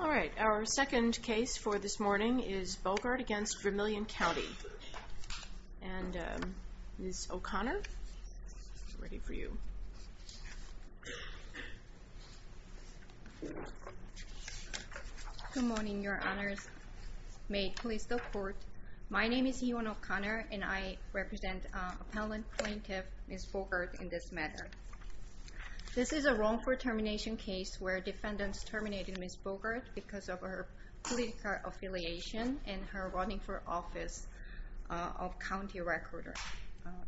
All right, our second case for this morning is Bogart v. Vermilion County, and Ms. O'Connor, ready for you. Good morning, your honors. May it please the court. My name is Yvonne O'Connor, and I represent appellant plaintiff, Ms. Bogart, in this matter. This is a wrongful termination case where defendants terminated Ms. Bogart because of her political affiliation and her running for office of county recorder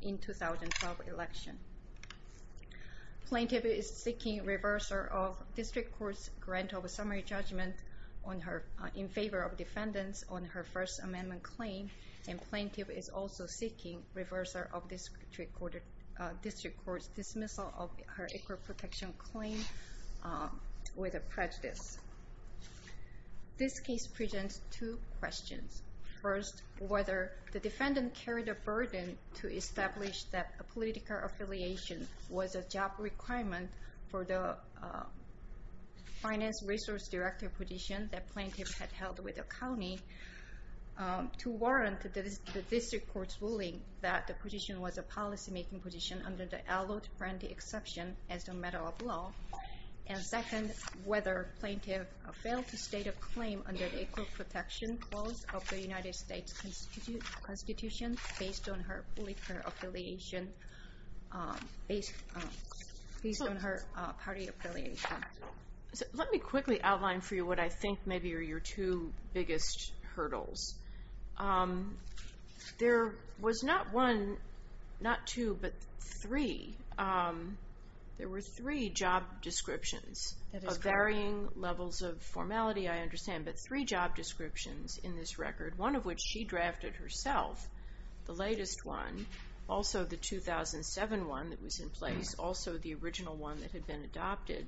in 2012 election. Plaintiff is seeking reversal of district court's grant of a summary judgment in favor of defendants on her First Amendment claim, and plaintiff is also seeking reversal of district court's dismissal of her equal protection claim with a prejudice. This case presents two questions. First, whether the defendant carried a burden to establish that a political affiliation was a job requirement for the finance resource director position that plaintiff had held with the county to warrant the district court's ruling that the position was a policymaking position under the Allot Friendly Exception as a matter of law, and second, whether plaintiff failed to state a claim under the equal protection clause of the United States Constitution based on her party affiliation. Let me quickly outline for you what I think maybe are your two biggest hurdles. There was not one, not two, but three. There were three job descriptions of varying levels of formality, I understand, but three job descriptions in this record, one of which she drafted herself, the latest one, also the 2007 one that was in place, also the original one that had been adopted.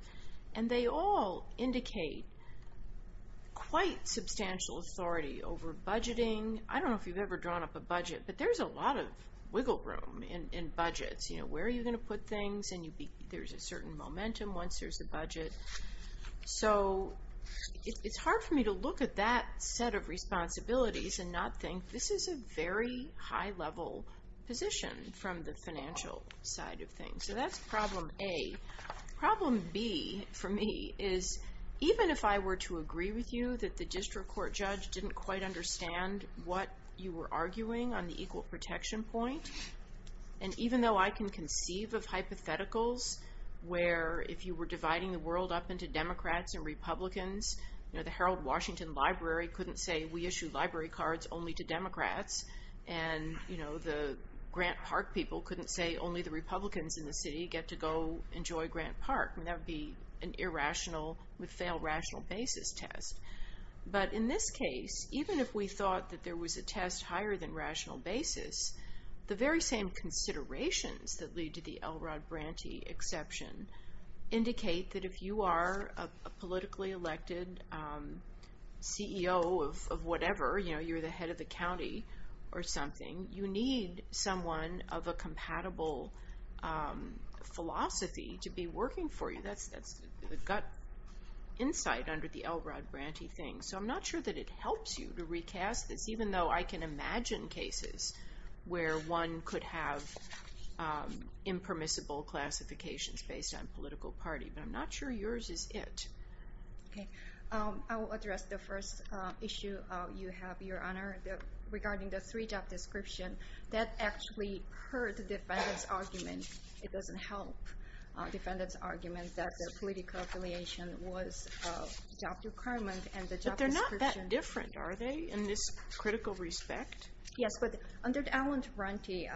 And they all indicate quite substantial authority over budgeting. I don't know if you've ever drawn up a budget, but there's a lot of wiggle room in budgets, you know, where are you going to put things, and there's a certain momentum once there's a budget. So it's hard for me to look at that set of responsibilities and not think this is a very high-level position from the financial side of things. So that's problem A. Problem B for me is even if I were to agree with you that the district court judge didn't quite understand what you were arguing on the equal protection point, And even though I can conceive of hypotheticals where if you were dividing the world up into Democrats and Republicans, you know, the Harold Washington Library couldn't say we issue library cards only to Democrats, and you know, the Grant Park people couldn't say only the Republicans in the city get to go enjoy Grant Park. I mean, that would be an irrational, a failed rational basis test. But in this case, even if we thought that there was a test higher than rational basis, the very same considerations that lead to the Elrod Branty exception indicate that if you are a politically elected CEO of whatever, you know, you're the head of the county or something, you need someone of a compatible philosophy to be working for you. That's the gut insight under the Elrod Branty thing. So I'm not sure that it helps you to recast this, even though I can imagine cases where one could have impermissible classifications based on political party. But I'm not sure yours is it. Okay. I will address the first issue you have, Your Honor, regarding the three job description. That actually hurt the defendant's argument. It doesn't help the defendant's argument that the political affiliation was a job requirement and the job description... But they're not that different, are they, in this critical respect? Yes, but under the Elrod Branty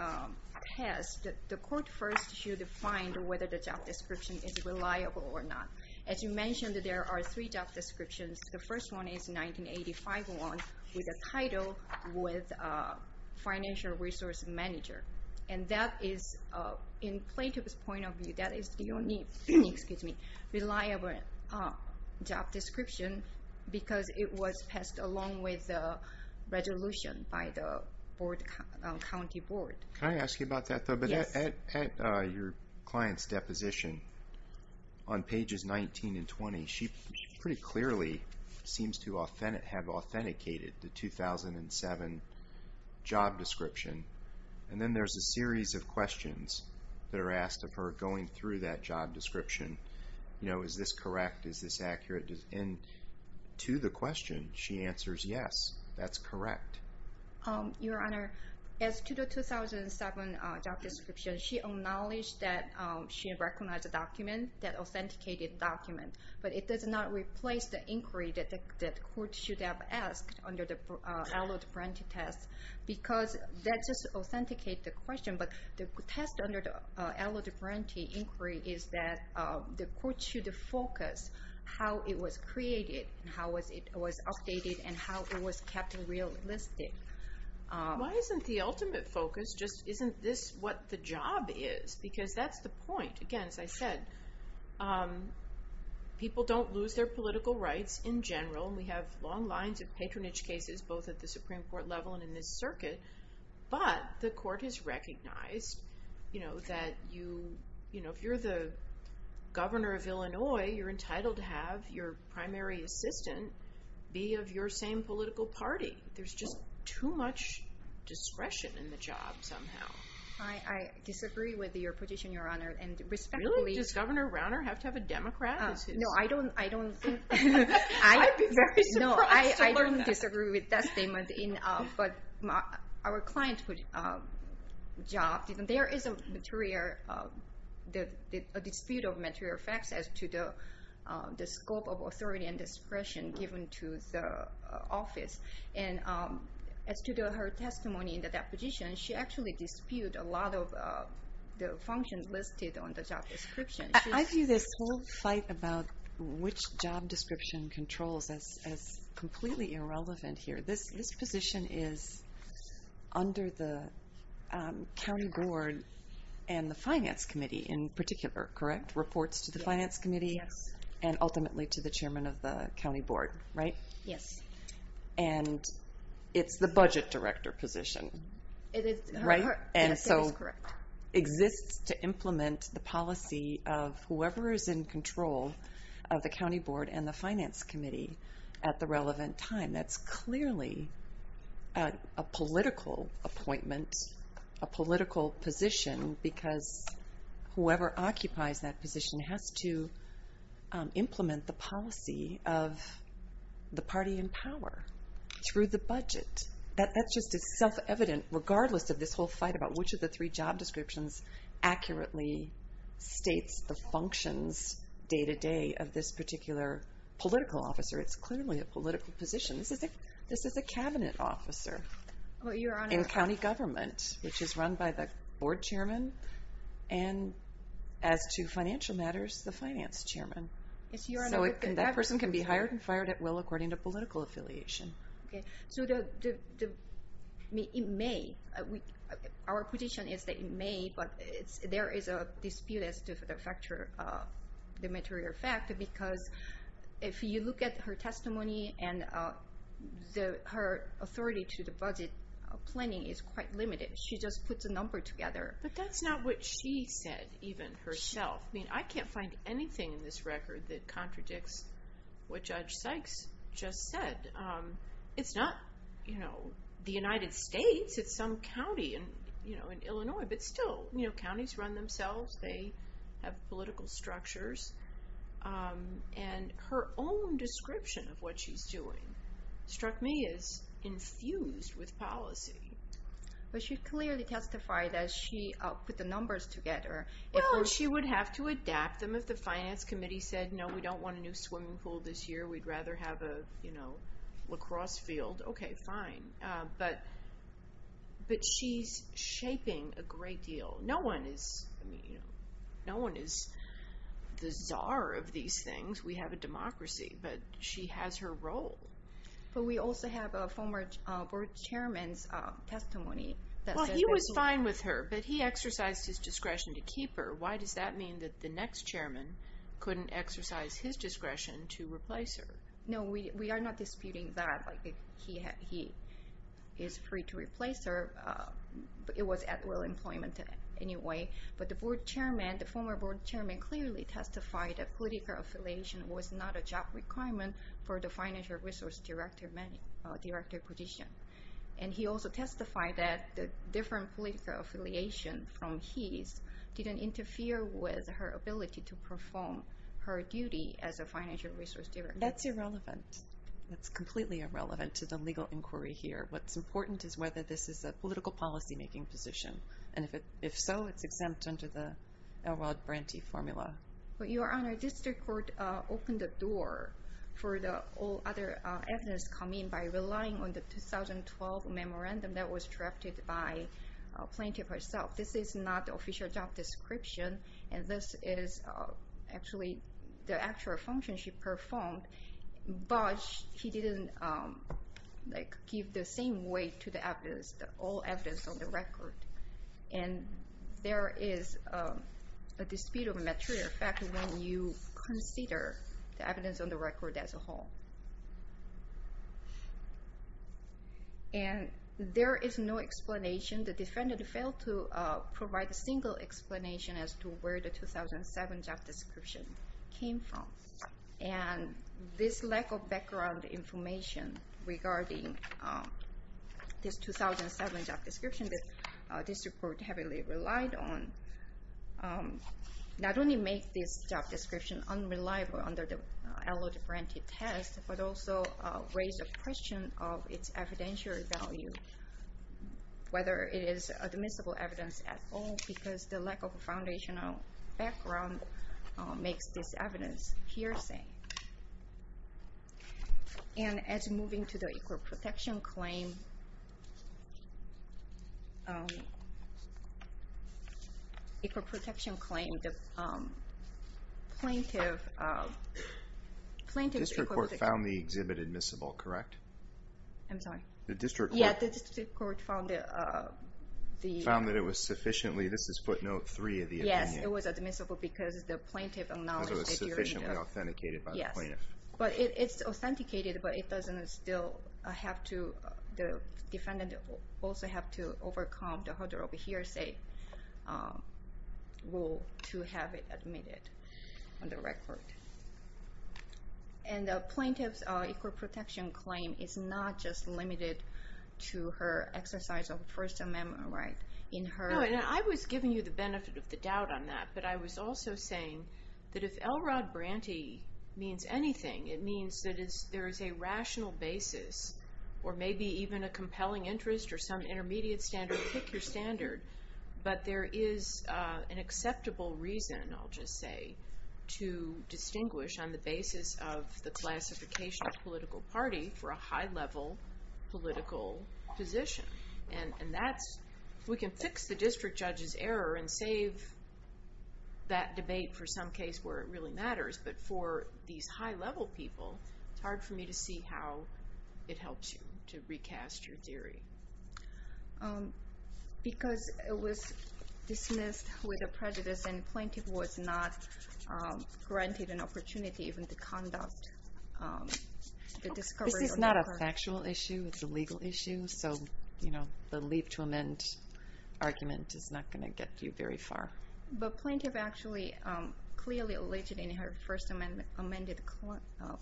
test, the court first should find whether the job description is reliable or not. As you mentioned, there are three job descriptions. The first one is 1985 one with a title with financial resource manager. And that is, in plaintiff's point of view, that is the only reliable job description because it was passed along with the resolution by the county board. Can I ask you about that, though? At your client's deposition on pages 19 and 20, she pretty clearly seems to have authenticated the 2007 job description. And then there's a series of questions that are asked of her going through that job description. Is this correct? Is this accurate? And to the question, she answers yes, that's correct. Your Honor, as to the 2007 job description, she acknowledged that she recognized the document, that authenticated document. But it does not replace the inquiry that the court should have asked under the Elrod Branty test because that just authenticated the question. But the test under the Elrod Branty inquiry is that the court should focus on how it was created, how it was updated, and how it was kept realistic. Why isn't the ultimate focus just isn't this what the job is? Because that's the point. Again, as I said, people don't lose their political rights in general. And we have long lines of patronage cases, both at the Supreme Court level and in this circuit. But the court has recognized that if you're the governor of Illinois, you're entitled to have your primary assistant be of your same political party. There's just too much discretion in the job somehow. I disagree with your position, Your Honor. And respectfully... Really? Does Governor Rauner have to have a Democrat as his... No, I don't think... I'd be very surprised to learn that. No, I don't disagree with that statement. But our client's job, there is a dispute of material facts as to the scope of authority and discretion given to the office. And as to her testimony in the deposition, she actually disputed a lot of the functions listed on the job description. I view this whole fight about which job description controls as completely irrelevant here. This position is under the county board and the finance committee in particular, correct? Reports to the finance committee and ultimately to the chairman of the county board, right? Yes. And it's the budget director position, right? And so it exists to implement the policy of whoever is in control of the county board and the finance committee at the relevant time. That's clearly a political appointment, a political position, because whoever occupies that position has to implement the policy of the policy of the party in power through the budget. That's just as self-evident regardless of this whole fight about which of the three job descriptions accurately states the functions day-to-day of this particular political officer. It's clearly a political position. This is a cabinet officer in county government, which is run by the board chairman, and as to financial matters, the finance chairman. So that person can be hired and fired at will according to political affiliation. But that's not what she said even herself. I mean, I can't find anything in this record that contradicts what Judge Sykes just said. And it's not the United States. It's some county in Illinois. But still, counties run themselves. They have political structures. And her own description of what she's doing struck me as infused with policy. But she clearly testified that she put the numbers together. Well, he was fine with her, but he exercised his discretion to keep her. Why does that mean that the next chairman couldn't exercise his discretion to replace her? No, we are not disputing that. He is free to replace her. It was at will employment anyway. But the board chairman, the former board chairman, clearly testified that political affiliation was not a job requirement for the financial resource director position. And he also testified that the different political affiliation from his didn't interfere with her ability to perform her duty as a financial resource director. That's irrelevant. That's completely irrelevant to the legal inquiry here. What's important is whether this is a political policymaking position. And if so, it's exempt under the Elrod Branty formula. But Your Honor, district court opened the door for all other evidence to come in by relying on the 2012 memorandum that was drafted by Plaintiff herself. This is not the official job description, and this is actually the actual function she performed. But she didn't give the same weight to the evidence, all evidence on the record. And there is a dispute of material fact when you consider the evidence on the record as a whole. And there is no explanation. The defendant failed to provide a single explanation as to where the 2007 job description came from. And this lack of background information regarding this 2007 job description that district court heavily relied on, not only make this job description unreliable under the Elrod Branty test, but also raise a question of its evidential value, whether it is admissible evidence at all, because the lack of a foundational background makes this evidence hearsay. And as moving to the equal protection claim, the plaintiff... District court found the exhibit admissible, correct? I'm sorry? Yeah, the district court found the... Found that it was sufficiently, this is footnote three of the opinion. It was admissible because the plaintiff acknowledged... Because it was sufficiently authenticated by the plaintiff. Yes. But it's authenticated, but it doesn't still have to, the defendant also have to overcome the harder of a hearsay rule to have it admitted on the record. And the plaintiff's equal protection claim is not just limited to her exercise of First Amendment right in her... No, and I was giving you the benefit of the doubt on that, but I was also saying that if Elrod Branty means anything, it means that there is a rational basis or maybe even a compelling interest or some intermediate standard, pick your standard. But there is an acceptable reason, I'll just say, to distinguish on the basis of the classification of political party for a high level political position. And that's, we can fix the district judge's error and save that debate for some case where it really matters. But for these high level people, it's hard for me to see how it helps you to recast your theory. Because it was dismissed with a prejudice and the plaintiff was not granted an opportunity even to conduct the discovery... This is not a factual issue, it's a legal issue, so the leave to amend argument is not going to get you very far. But plaintiff actually clearly alleged in her First Amendment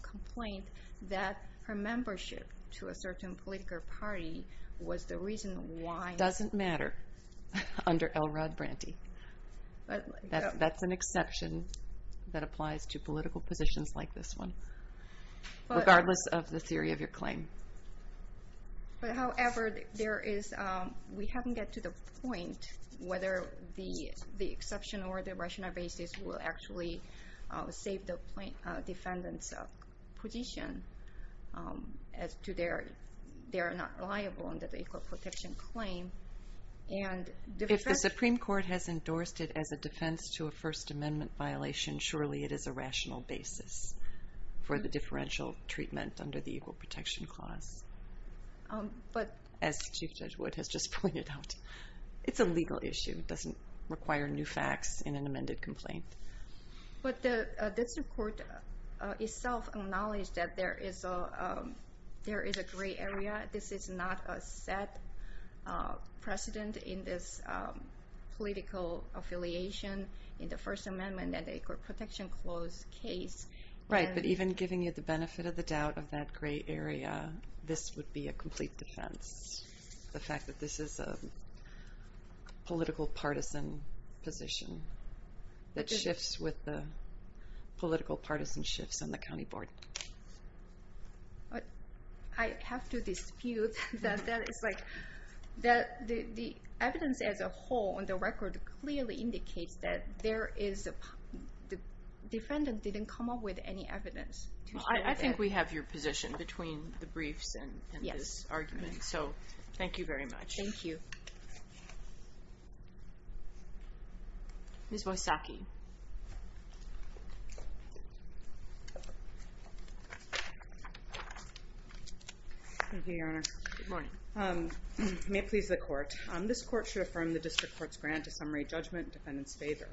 complaint that her membership to a certain political party was the reason why... However, we haven't gotten to the point whether the exception or the rational basis will actually save the defendant's position as to their not liable under the Equal Protection Claim. If the Supreme Court has endorsed it as a defense to a First Amendment violation, surely it is a rational basis for the differential treatment under the Equal Protection Clause. As Chief Judge Wood has just pointed out, it's a legal issue, it doesn't require new facts in an amended complaint. But the District Court itself acknowledged that there is a gray area. This is not a set precedent in this political affiliation in the First Amendment and the Equal Protection Clause case. Right, but even giving you the benefit of the doubt of that gray area, this would be a complete defense. The fact that this is a political partisan position that shifts with the political partisan shifts on the County Board. I have to dispute that. The evidence as a whole on the record clearly indicates that the defendant didn't come up with any evidence. I think we have your position between the briefs and this argument, so thank you very much. Thank you. Ms. Wojsacki. Thank you, Your Honor. Good morning. May it please the Court. This Court should affirm the District Court's grant to summary judgment in the defendant's favor.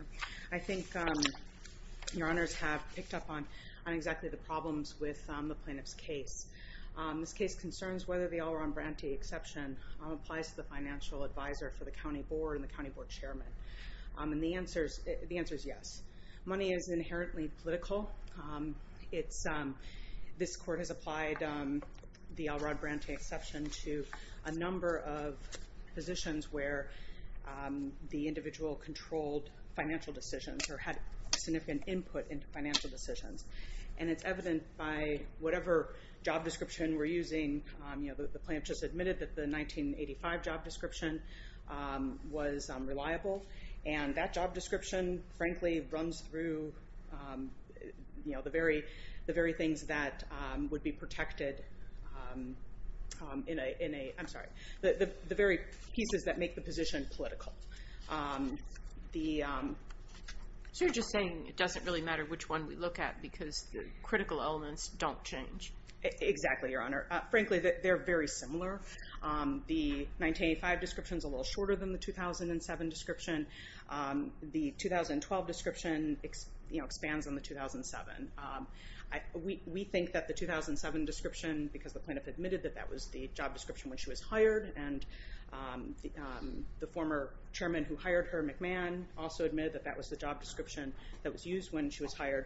I think Your Honors have picked up on exactly the problems with the plaintiff's case. This case concerns whether the Elrod Branti exception applies to the financial advisor for the County Board and the County Board Chairman. And the answer is yes. Money is inherently political. This Court has applied the Elrod Branti exception to a number of positions where the individual controlled financial decisions or had significant input into financial decisions. And it's evident by whatever job description we're using. The plaintiff just admitted that the 1985 job description was reliable. And that job description, frankly, runs through the very pieces that make the position political. So you're just saying it doesn't really matter which one we look at because the critical elements don't change? Exactly, Your Honor. Frankly, they're very similar. The 1985 description is a little shorter than the 2007 description. The 2012 description expands on the 2007. We think that the 2007 description, because the plaintiff admitted that that was the job description when she was hired, and the former chairman who hired her, McMahon, also admitted that that was the job description that was used when she was hired.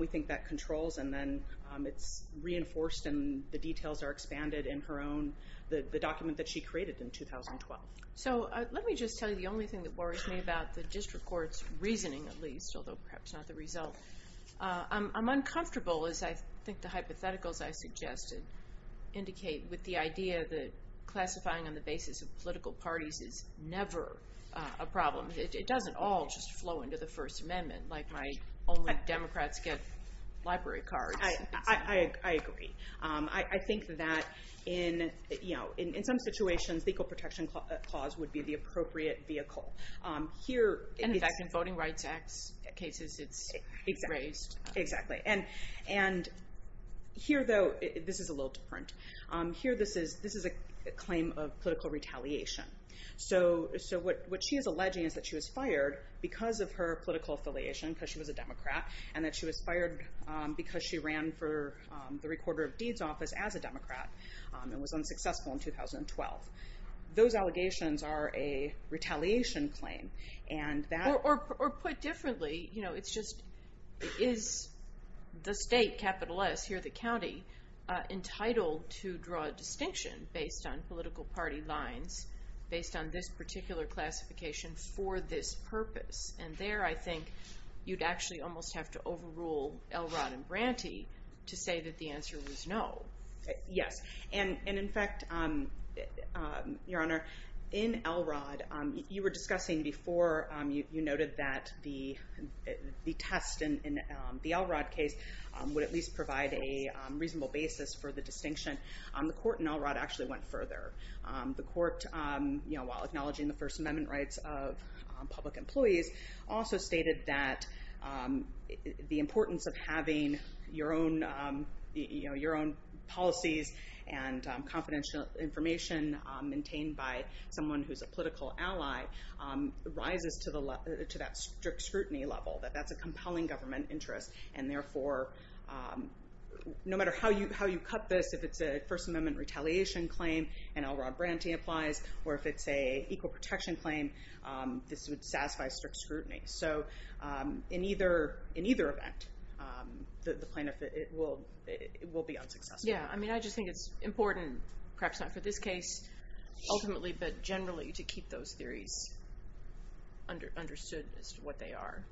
We think that controls and then it's reinforced and the details are expanded in her own, the document that she created in 2012. So let me just tell you the only thing that worries me about the District Court's reasoning, at least, although perhaps not the result. I'm uncomfortable, as I think the hypotheticals I suggested indicate, with the idea that classifying on the basis of political parties is never a problem. It doesn't all just flow into the First Amendment, like my only Democrats get library cards. I agree. I think that in some situations, the Equal Protection Clause would be the appropriate vehicle. And in fact, in Voting Rights Act cases, it's raised. Exactly. And here, though, this is a little different. Here, this is a claim of political retaliation. So what she is alleging is that she was fired because of her political affiliation, because she was a Democrat, and that she was fired because she ran for the Recorder of Deeds Office as a Democrat and was unsuccessful in 2012. Those allegations are a retaliation claim. Or put differently, is the state, capital S, here the county, entitled to draw a distinction based on political party lines, based on this particular classification for this purpose? And there, I think, you'd actually almost have to overrule Elrod and Branty to say that the answer was no. Yes. And in fact, Your Honor, in Elrod, you were discussing before, you noted that the test in the Elrod case would at least provide a reasonable basis for the distinction. The court in Elrod actually went further. The court, while acknowledging the First Amendment rights of public employees, also stated that the importance of having your own policies and confidential information maintained by someone who's a political ally rises to that strict scrutiny level, that that's a compelling government interest. And therefore, no matter how you cut this, if it's a First Amendment retaliation claim, and Elrod Branty applies, or if it's a equal protection claim, this would satisfy strict scrutiny. So in either event, the plaintiff, it will be unsuccessful. Yeah, I mean, I just think it's important, perhaps not for this case ultimately, but generally to keep those theories understood as to what they are.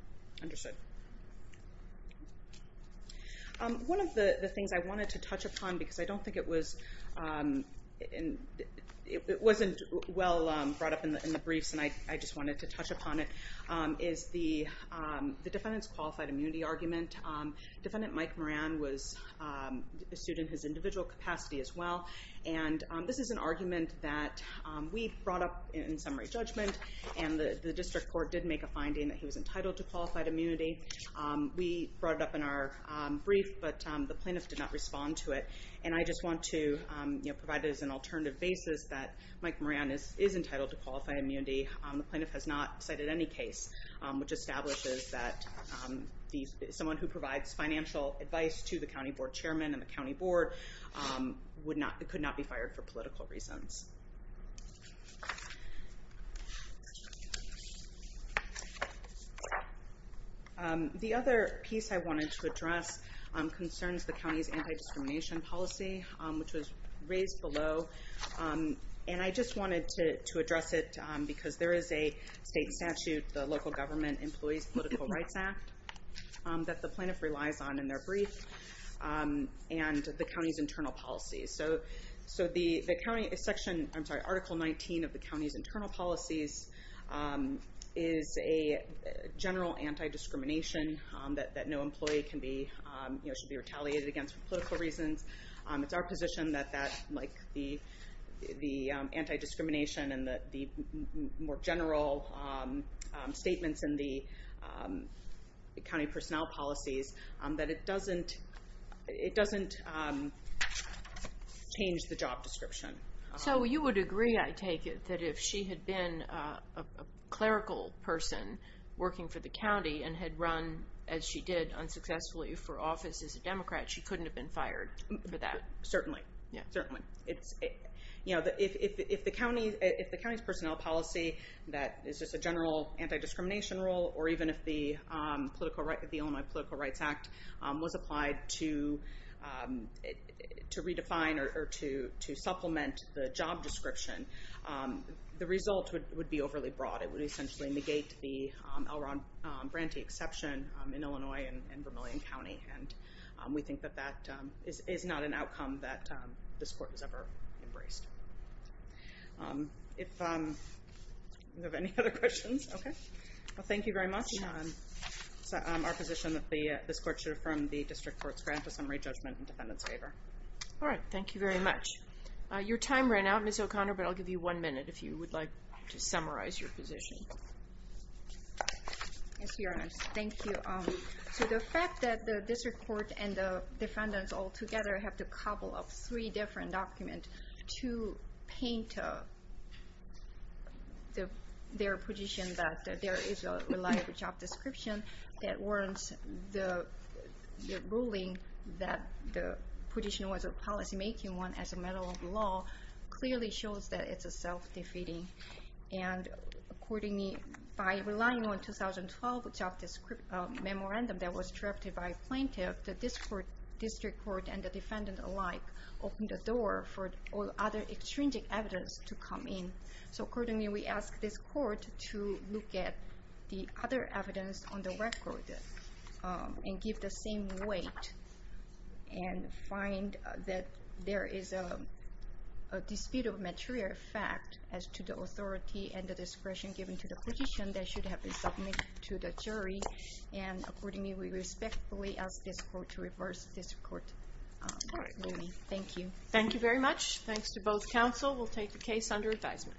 Understood. One of the things I wanted to touch upon, because I don't think it was, it wasn't well brought up in the briefs, and I just wanted to touch upon it, is the defendant's qualified immunity argument. Defendant Mike Moran was sued in his individual capacity as well, and this is an argument that we brought up in summary judgment, and the district court did make a finding that he was entitled to qualified immunity. We brought it up in our brief, but the plaintiff did not respond to it, and I just want to provide it as an alternative basis that Mike Moran is entitled to qualified immunity. The plaintiff has not cited any case which establishes that someone who provides financial advice to the county board chairman and the county board could not be fired for political reasons. The other piece I wanted to address concerns the county's anti-discrimination policy, which was raised below, and I just wanted to address it, because there is a state statute, the Local Government Employees Political Rights Act, that the plaintiff relies on in their brief, and the county's internal policies. Article 19 of the county's internal policies is a general anti-discrimination that no employee should be retaliated against for political reasons. It's our position that the anti-discrimination and the more general statements in the county personnel policies, that it doesn't change the job description. So you would agree, I take it, that if she had been a clerical person working for the county and had run, as she did, unsuccessfully for office as a Democrat, she couldn't have been fired for that. Certainly. Certainly. If the county's personnel policy that is just a general anti-discrimination rule, or even if the Illinois Political Rights Act was applied to redefine or to supplement the job description, the result would be overly broad. It would essentially negate the L. Ron Branty exception in Illinois and Vermilion County, and we think that that is not an outcome that this court has ever embraced. Do we have any other questions? Okay. Well, thank you very much. It's our position that this court should affirm the district court's grant of summary judgment in defendant's favor. All right. Thank you very much. Your time ran out, Ms. O'Connor, but I'll give you one minute if you would like to summarize your position. Yes, Your Honor. Thank you. So the fact that the district court and the defendants all together have to cobble up three different documents to paint their position that there is a reliable job description that warrants the ruling that the position was a policymaking one as a matter of law clearly shows that it's self-defeating. And by relying on 2012 job memorandum that was drafted by a plaintiff, the district court and the defendant alike opened the door for other extrinsic evidence to come in. So accordingly, we ask this court to look at the other evidence on the record and give the same weight and find that there is a dispute of material fact as to the authority and the discretion given to the position that should have been submitted to the jury. And accordingly, we respectfully ask this court to reverse this court ruling. Thank you. Thank you very much. Thanks to both counsel. We'll take the case under advisement.